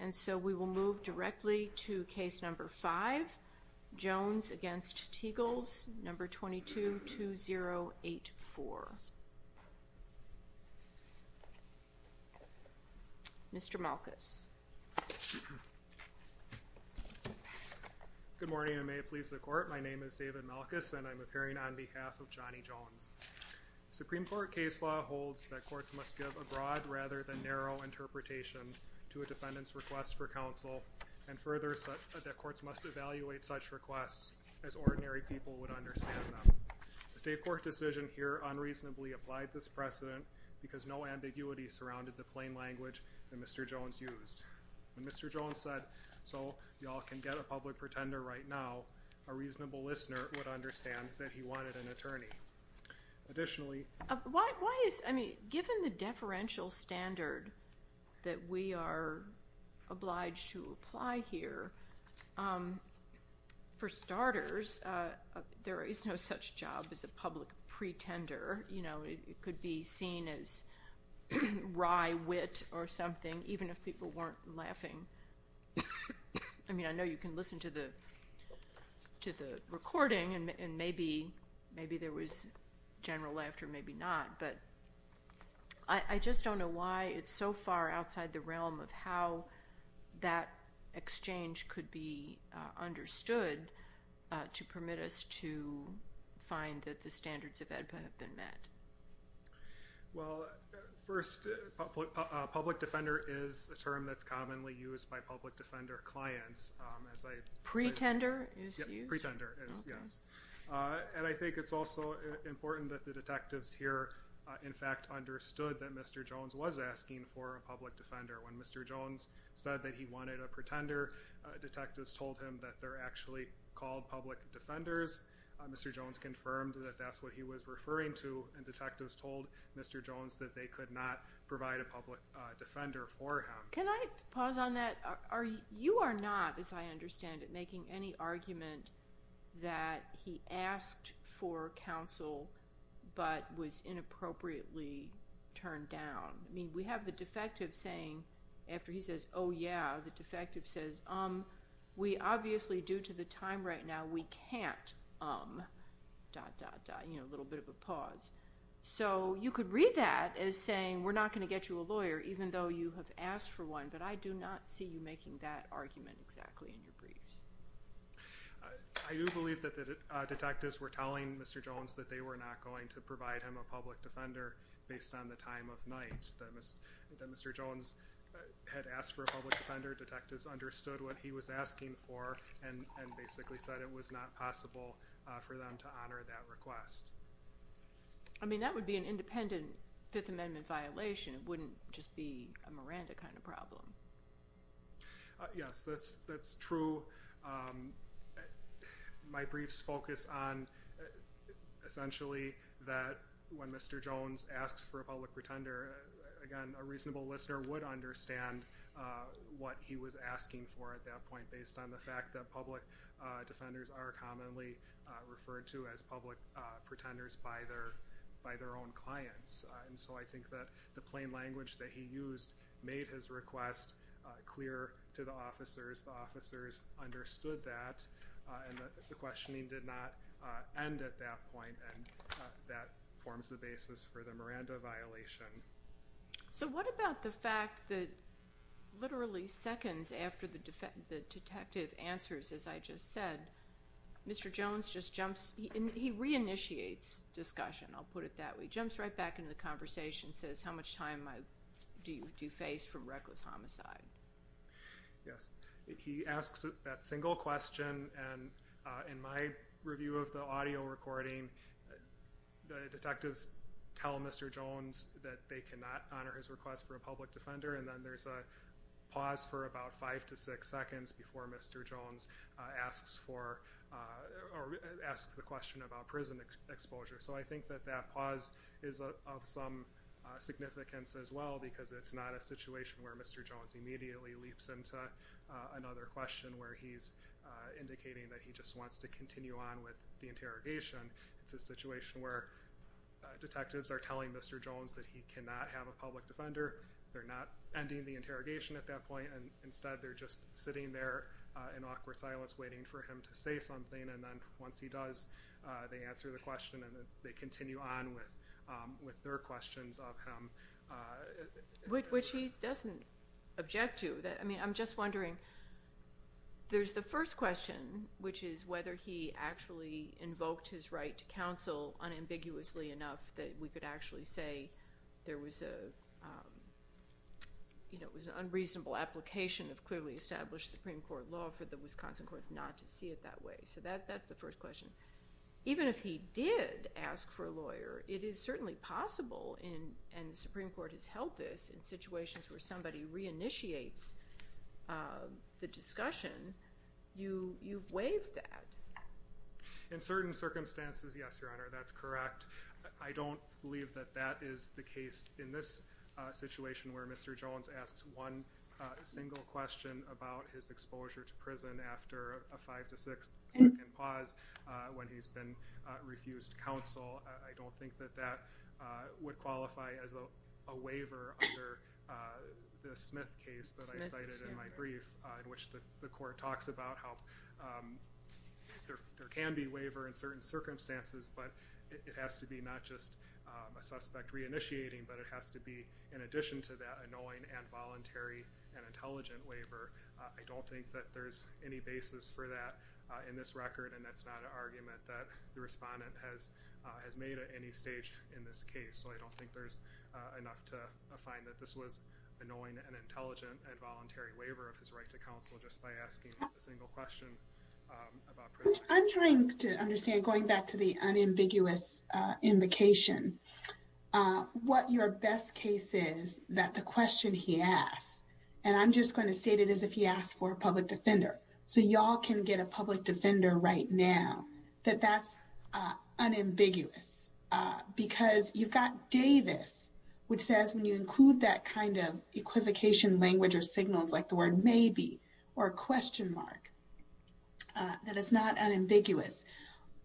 And so we will move directly to case number 5, Jones v. Tegels, number 22-2084. Mr. Malkus. Good morning, and may it please the Court, my name is David Malkus and I'm appearing on behalf of Johnny Jones. Supreme Court case law holds that courts must give a broad rather than narrow interpretation to a defendant's request for counsel, and further that courts must evaluate such requests as ordinary people would understand them. The State Court decision here unreasonably applied this precedent because no ambiguity surrounded the plain language that Mr. Jones used. When Mr. Jones said, so y'all can get a public pretender right now, a reasonable listener would understand that he wanted an attorney. Additionally Why is, I mean, given the deferential standard that we are obliged to apply here, for starters, there is no such job as a public pretender, you know, it could be seen as wry wit or something even if people weren't laughing. I mean, I know you can listen to the recording and maybe there was general laughter, maybe not, but I just don't know why it's so far outside the realm of how that exchange could be understood to permit us to find that the standards of AEDPA have been met. Well, first, public defender is a term that's commonly used by public defender clients. Pretender is used? Pretender is, yes. Okay. And I think it's also important that the detectives here, in fact, understood that Mr. Jones was asking for a public defender. When Mr. Jones said that he wanted a pretender, detectives told him that they're actually called public defenders. Mr. Jones confirmed that that's what he was referring to and detectives told Mr. Jones that they could not provide a public defender for him. Can I pause on that? You are not, as I understand it, making any argument that he asked for counsel but was inappropriately turned down. I mean, we have the defective saying, after he says, oh yeah, the defective says, um, we obviously, due to the time right now, we can't, um, dot, dot, dot, you know, a little bit of a pause. So you could read that as saying, we're not going to get you a lawyer even though you have asked for one, but I do not see you making that argument exactly in your briefs. I do believe that the detectives were telling Mr. Jones that they were not going to provide him a public defender based on the time of night, that Mr. Jones had asked for a public defender. The public defender detectives understood what he was asking for and basically said it was not possible for them to honor that request. I mean, that would be an independent Fifth Amendment violation. It wouldn't just be a Miranda kind of problem. Yes, that's true. My briefs focus on essentially that when Mr. Jones asks for a public pretender, again, a reasonable listener would understand what he was asking for at that point based on the fact that public defenders are commonly referred to as public pretenders by their, by their own clients. And so I think that the plain language that he used made his request clear to the officers. The officers understood that and the questioning did not end at that point and that forms the basis for the Miranda violation. So what about the fact that literally seconds after the detective answers, as I just said, Mr. Jones just jumps, he re-initiates discussion, I'll put it that way, jumps right back into the conversation and says, how much time do you face for reckless homicide? Yes, he asks that single question and in my review of the audio recording, the detectives tell Mr. Jones that they cannot honor his request for a public defender and then there's a pause for about five to six seconds before Mr. Jones asks for, or asks the question about prison exposure. So I think that that pause is of some significance as well because it's not a situation where Mr. Jones immediately leaps into another question where he's indicating that he just wants to continue on with the interrogation. It's a situation where detectives are telling Mr. Jones that he cannot have a public defender, they're not ending the interrogation at that point and instead they're just sitting there in awkward silence waiting for him to say something and then once he does, they answer the question and then they continue on with their questions of him. Which he doesn't object to, I mean, I'm just wondering, there's the first question which is whether he actually invoked his right to counsel unambiguously enough that we could actually say there was a, you know, it was an unreasonable application of clearly established Supreme Court law for the Wisconsin courts not to see it that way. So that's the first question. Even if he did ask for a lawyer, it is certainly possible and the Supreme Court has held this in situations where somebody reinitiates the discussion, you've waived that. In certain circumstances, yes, Your Honor, that's correct. I don't believe that that is the case in this situation where Mr. Jones asks one single question about his exposure to prison after a five to six second pause when he's been refused counsel. I don't think that that would qualify as a waiver under the Smith case that I cited in my brief in which the court talks about how there can be waiver in certain circumstances but it has to be not just a suspect reinitiating but it has to be in addition to that annoying and voluntary and intelligent waiver. I don't think that there's any basis for that in this record and that's not an argument that the respondent has made at any stage in this case. So I don't think there's enough to find that this was annoying and intelligent and voluntary waiver of his right to counsel just by asking a single question about prison. I'm trying to understand, going back to the unambiguous invocation, what your best case is that the question he asks, and I'm just going to state it as if he asked for a public defender right now, that that's unambiguous. Because you've got Davis which says when you include that kind of equivocation language or signals like the word maybe or question mark, that it's not unambiguous.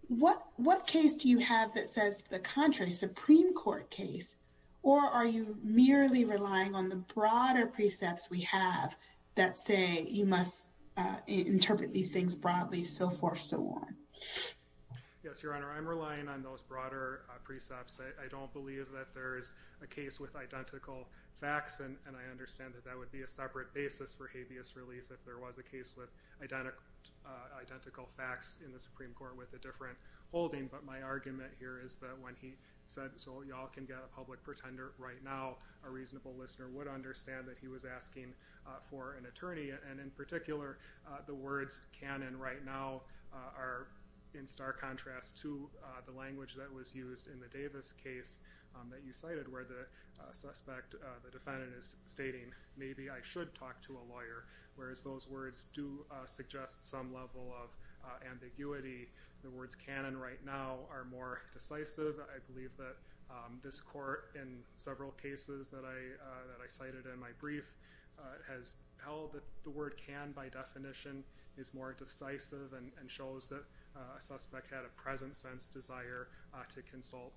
What case do you have that says the contrary, Supreme Court case, or are you merely relying on the broader precepts we have that say you must interpret these things broadly, so forth, so on? Yes, Your Honor, I'm relying on those broader precepts. I don't believe that there is a case with identical facts and I understand that that would be a separate basis for habeas relief if there was a case with identical facts in the Supreme Court with a different holding. But my argument here is that when he said, so y'all can get a public pretender right now, a reasonable listener would understand that he was asking for an attorney. And in particular, the words can and right now are in stark contrast to the language that was used in the Davis case that you cited where the suspect, the defendant is stating maybe I should talk to a lawyer, whereas those words do suggest some level of ambiguity. The words can and right now are more decisive. I believe that this court in several cases that I cited in my brief has held that the word can by definition is more decisive and shows that a suspect had a present sense desire to consult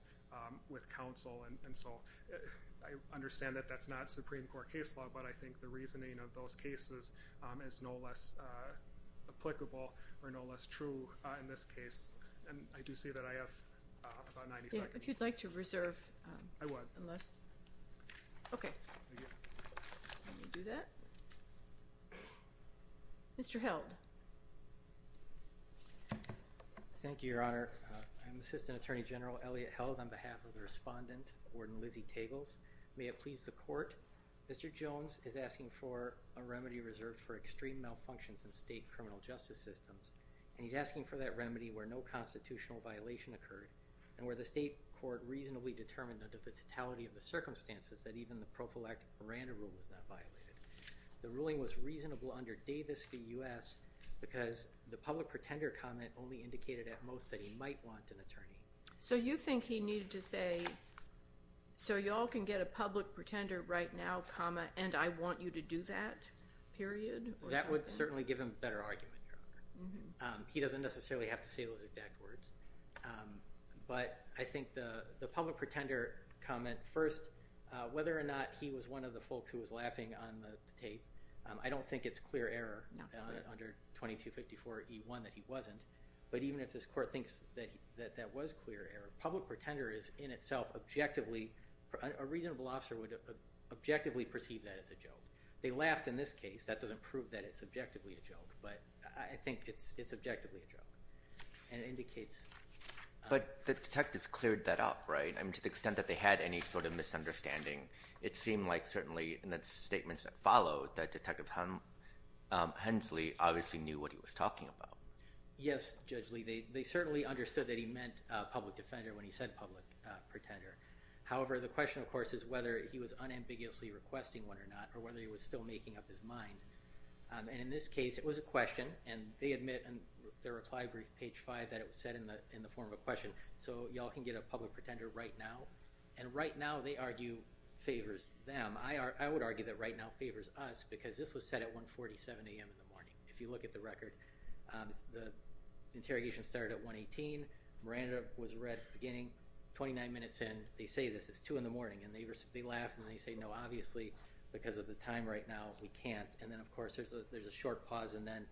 with counsel. And so I understand that that's not Supreme Court case law, but I think the reasoning of those cases is no less applicable or no less true in this case. And I do say that I have about 90 seconds. If you'd like to reserve. I would. Unless. Okay. Thank you. Let me do that. Mr. Held. Thank you, Your Honor. I'm Assistant Attorney General Elliot Held on behalf of the respondent, Warden Lizzie Tagles. May it please the court. Mr. Jones is asking for a remedy reserved for extreme malfunctions in state criminal justice systems. And he's asking for that remedy where no constitutional violation occurred and where the state court reasonably determined under the totality of the circumstances that even the prophylactic Miranda rule was not violated. The ruling was reasonable under Davis v. U.S. because the public pretender comment only indicated at most that he might want an attorney. So you think he needed to say, so y'all can get a public pretender right now, comma, and I want you to do that, period? That would certainly give him better argument, Your Honor. He doesn't necessarily have to say those exact words. But I think the public pretender comment, first, whether or not he was one of the folks who was laughing on the tape, I don't think it's clear error under 2254E1 that he wasn't. But even if this court thinks that that was clear error, public pretender is in itself objectively, a reasonable officer would objectively perceive that as a joke. They laughed in this case. That doesn't prove that it's objectively a joke. But I think it's objectively a joke and it indicates... But the detectives cleared that up, right? I mean, to the extent that they had any sort of misunderstanding, it seemed like certainly in the statements that followed that Detective Hensley obviously knew what he was talking about. Yes, Judge Lee. They certainly understood that he meant public defender when he said public pretender. However, the question, of course, is whether he was unambiguously requesting one or not requesting. And in this case, it was a question and they admit in their reply brief, page five, that it was said in the form of a question. So y'all can get a public pretender right now. And right now, they argue, favors them. I would argue that right now favors us because this was said at 147 a.m. in the morning. If you look at the record, the interrogation started at 118, Miranda was red at the beginning, 29 minutes in, they say this, it's two in the morning, and they laugh and they say no, obviously, because of the time right now, we can't. And then, of course, there's a short pause and then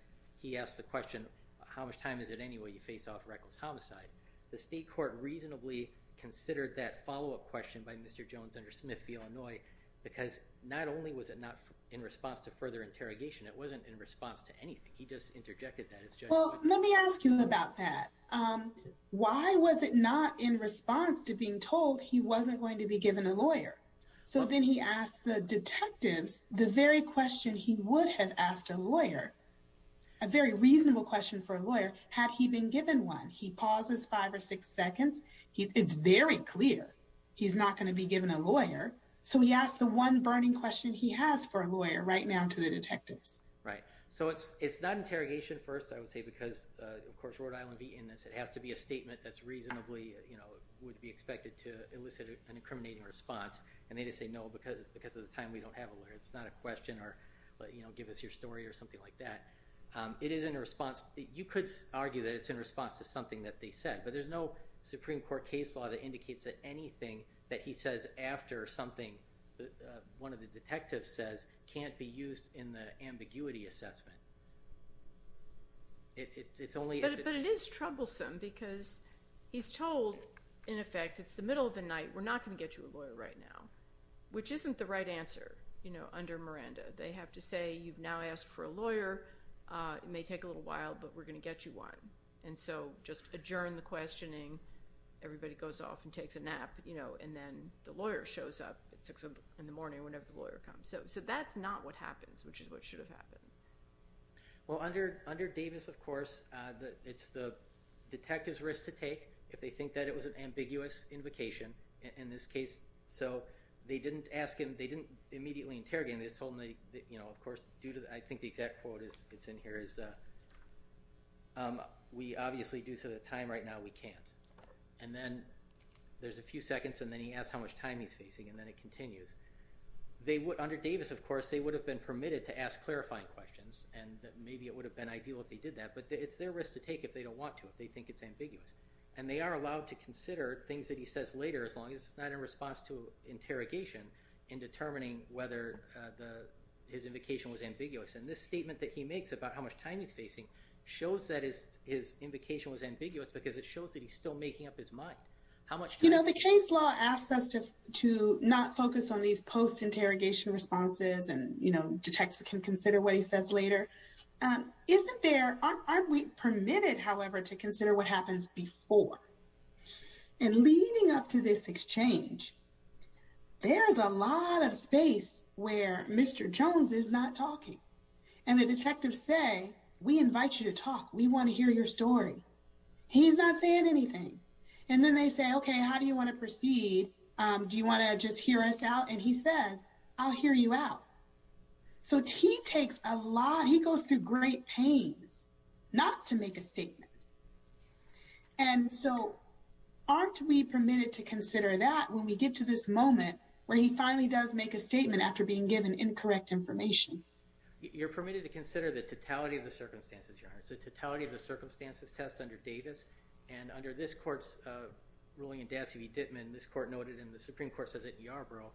he asks the question, how much time is it anyway you face off reckless homicide? The state court reasonably considered that follow-up question by Mr. Jones under Smith v. Illinois because not only was it not in response to further interrogation, it wasn't in response to anything. He just interjected that as Judge Lee. Well, let me ask you about that. Why was it not in response to being told he wasn't going to be given a lawyer? So then he asked the detectives the very question he would have asked a lawyer, a very reasonable question for a lawyer, had he been given one. He pauses five or six seconds. It's very clear he's not going to be given a lawyer. So he asked the one burning question he has for a lawyer right now to the detectives. Right. So it's not interrogation first, I would say, because of course, Rhode Island would be in this. It has to be a statement that's reasonably, you know, would be expected to elicit an incriminating response. And they just say, no, because of the time we don't have a lawyer, it's not a question or, you know, give us your story or something like that. It is in response. You could argue that it's in response to something that they said, but there's no Supreme Court case law that indicates that anything that he says after something that one of the detectives says can't be used in the ambiguity assessment. It's only if it is troublesome because he's told, in effect, it's the middle of the night. We're not going to get you a lawyer right now, which isn't the right answer, you know, under Miranda. They have to say, you've now asked for a lawyer. It may take a little while, but we're going to get you one. And so just adjourn the questioning. Everybody goes off and takes a nap, you know, and then the lawyer shows up in the morning whenever the lawyer comes. So that's not what happens, which is what should have happened. Well, under Davis, of course, it's the detective's risk to take if they think that it was an ambiguity in this case. So they didn't ask him, they didn't immediately interrogate him. They just told him, you know, of course, I think the exact quote that's in here is, we obviously, due to the time right now, we can't. And then there's a few seconds, and then he asks how much time he's facing, and then it continues. Under Davis, of course, they would have been permitted to ask clarifying questions, and maybe it would have been ideal if they did that. But it's their risk to take if they don't want to, if they think it's ambiguous. And they are allowed to consider things that he says later as long as it's not in response to interrogation in determining whether his invocation was ambiguous. And this statement that he makes about how much time he's facing shows that his invocation was ambiguous because it shows that he's still making up his mind. How much time? You know, the case law asks us to not focus on these post-interrogation responses and, you know, detectives can consider what he says later. Isn't there, aren't we permitted, however, to consider what happens before? And leading up to this exchange, there's a lot of space where Mr. Jones is not talking. And the detectives say, we invite you to talk. We want to hear your story. He's not saying anything. And then they say, okay, how do you want to proceed? Do you want to just hear us out? And he says, I'll hear you out. So he takes a lot, he goes through great pains not to make a statement. And so aren't we permitted to consider that when we get to this moment where he finally does make a statement after being given incorrect information? You're permitted to consider the totality of the circumstances, Your Honor. It's a totality of the circumstances test under Davis. And under this court's ruling in Datsy v. Dittman, this court noted in the Supreme Court says it in Yarborough,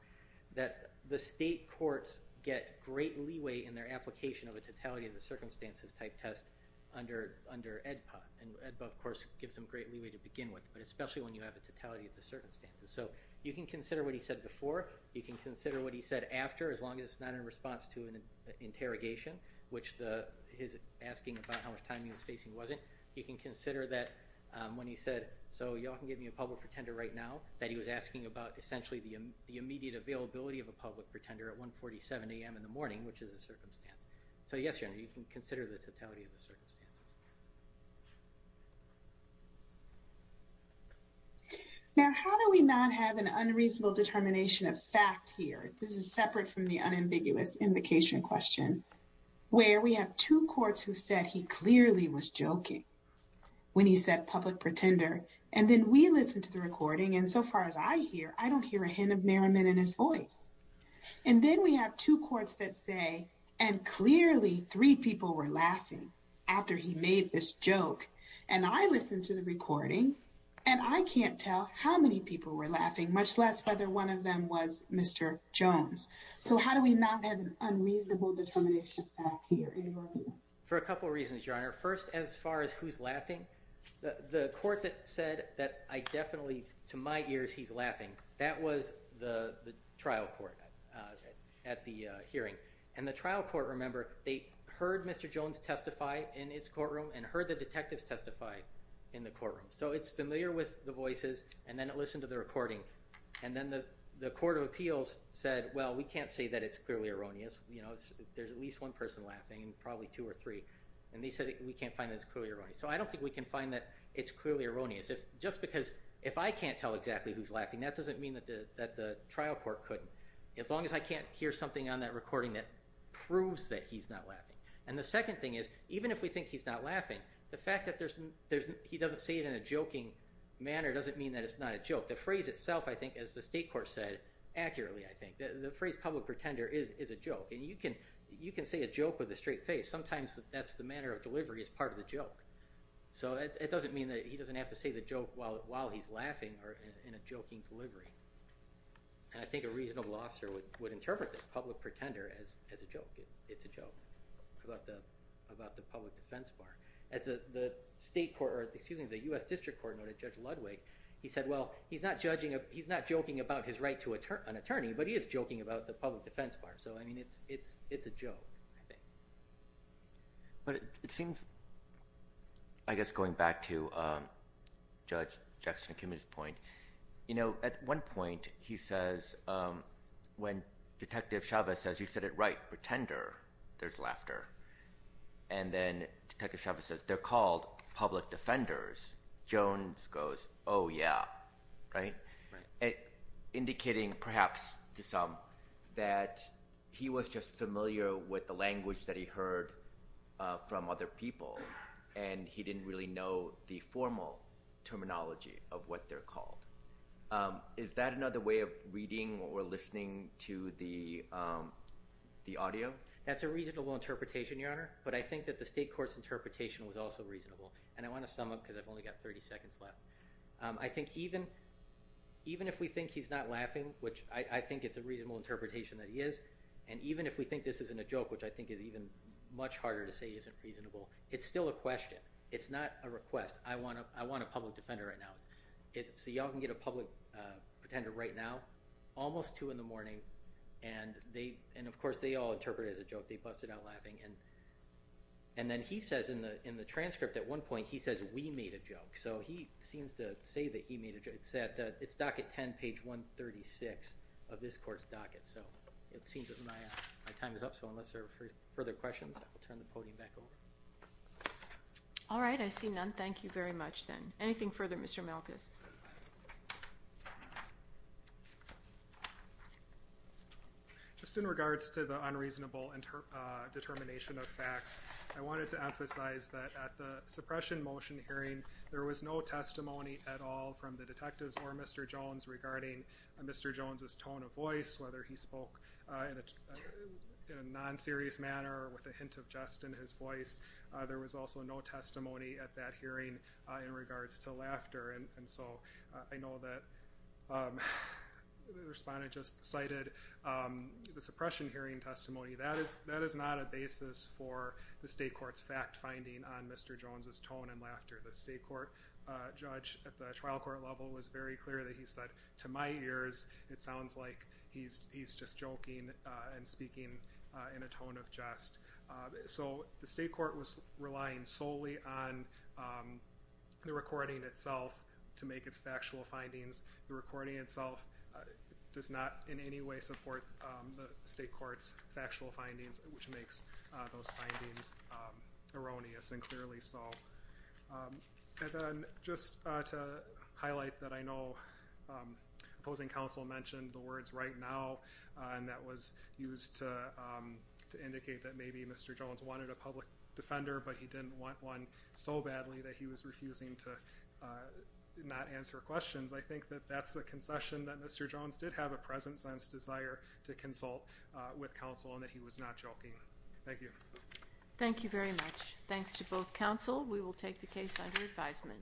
that the state courts get great leeway in their application of a totality of the circumstances type test under EDPA. And EDPA, of course, gives them great leeway to begin with, but especially when you have a totality of the circumstances. So you can consider what he said before. You can consider what he said after, as long as it's not in response to an interrogation, which his asking about how much time he was facing wasn't. You can consider that when he said, so y'all can give me a public pretender right now, that he was asking about essentially the immediate availability of a public pretender at 147 a.m. in the morning, which is a circumstance. So yes, Your Honor, you can consider the totality of the circumstances. Now, how do we not have an unreasonable determination of fact here? This is separate from the unambiguous invocation question, where we have two courts who said he clearly was joking when he said public pretender. And then we listen to the recording. And so far as I hear, I don't hear a hint of merriment in his voice. And then we have two courts that say, and clearly three people were laughing after he made this joke. And I listened to the recording, and I can't tell how many people were laughing, much less whether one of them was Mr. Jones. So how do we not have an unreasonable determination of fact here in Brooklyn? For a couple of reasons, Your Honor. First, as far as who's laughing, the court that said that I definitely, to my ears, he's laughing, that was the trial court at the hearing. And the trial court, remember, they heard Mr. Jones testify in his courtroom and heard the detectives testify in the courtroom. So it's familiar with the voices. And then it listened to the recording. And then the court of appeals said, well, we can't say that it's clearly erroneous. There's at least one person laughing, and probably two or three. And they said, we can't find that it's clearly erroneous. So I don't think we can find that it's clearly erroneous. Just because if I can't tell exactly who's laughing, that doesn't mean that the trial court couldn't, as long as I can't hear something on that recording that proves that he's not laughing. And the second thing is, even if we think he's not laughing, the fact that he doesn't say it in a joking manner doesn't mean that it's not a joke. The phrase itself, I think, as the state court said accurately, I think, the phrase public pretender is a joke. And you can say a joke with a straight face. Sometimes that's the manner of delivery as part of the joke. So it doesn't mean that he doesn't have to say the joke while he's laughing or in a joking delivery. And I think a reasonable officer would interpret this public pretender as a joke. It's a joke about the public defense bar. As the state court, or excuse me, the US District Court noted Judge Ludwig, he said, well, he's not judging, he's not joking about his right to an attorney, but he is joking about the public defense bar. So I mean, it's a joke, I think. But it seems, I guess, going back to Judge Jackson-Kimmitt's point, at one point he says, when Detective Chavez says, you said it right, pretender, there's laughter. And then Detective Chavez says, they're called public defenders, Jones goes, oh, yeah, right? Indicating, perhaps, to some, that he was just familiar with the language that he heard from other people, and he didn't really know the formal terminology of what they're called. Is that another way of reading or listening to the audio? That's a reasonable interpretation, Your Honor. But I think that the state court's interpretation was also reasonable. And I want to sum up, because I've only got 30 seconds left. I think even if we think he's not laughing, which I think it's a reasonable interpretation that he is, and even if we think this isn't a joke, which I think is even much harder to say isn't reasonable, it's still a question. It's not a request. I want a public defender right now. So y'all can get a public pretender right now, almost 2 in the morning, and of course, they all interpret it as a joke. They busted out laughing. And then he says, in the transcript at one point, he says, we made a joke. So he seems to say that he made a joke. It's docket 10, page 136 of this court's docket. So it seems that my time is up. So unless there are further questions, I will turn the podium back over. All right. I see none. Thank you very much, then. Anything further, Mr. Malkus? Just in regards to the unreasonable determination of facts, I wanted to emphasize that at the suppression motion hearing, there was no testimony at all from the detectives or Mr. Jones regarding Mr. Jones's tone of voice, whether he spoke in a non-serious manner or with a hint of jest in his voice. There was also no testimony at that hearing in regards to laughter. And so I know that the respondent just cited the suppression hearing testimony. That is not a basis for the state court's fact finding on Mr. Jones's tone and laughter. The state court judge at the trial court level was very clear that he said, to my ears, it sounds like he's just joking and speaking in a tone of jest. So the state court was relying solely on the recording itself to make its factual findings. The recording itself does not in any way support the state court's factual findings, which makes those findings erroneous and clearly so. And then just to highlight that I know opposing counsel mentioned the words right now and that was used to indicate that maybe Mr. Jones wanted a public defender, but he didn't want one so badly that he was refusing to not answer questions. I think that that's a concession that Mr. Jones did have a present sense desire to consult with counsel and that he was not joking. Thank you. Thank you very much. Thanks to both counsel. We will take the case under advisement.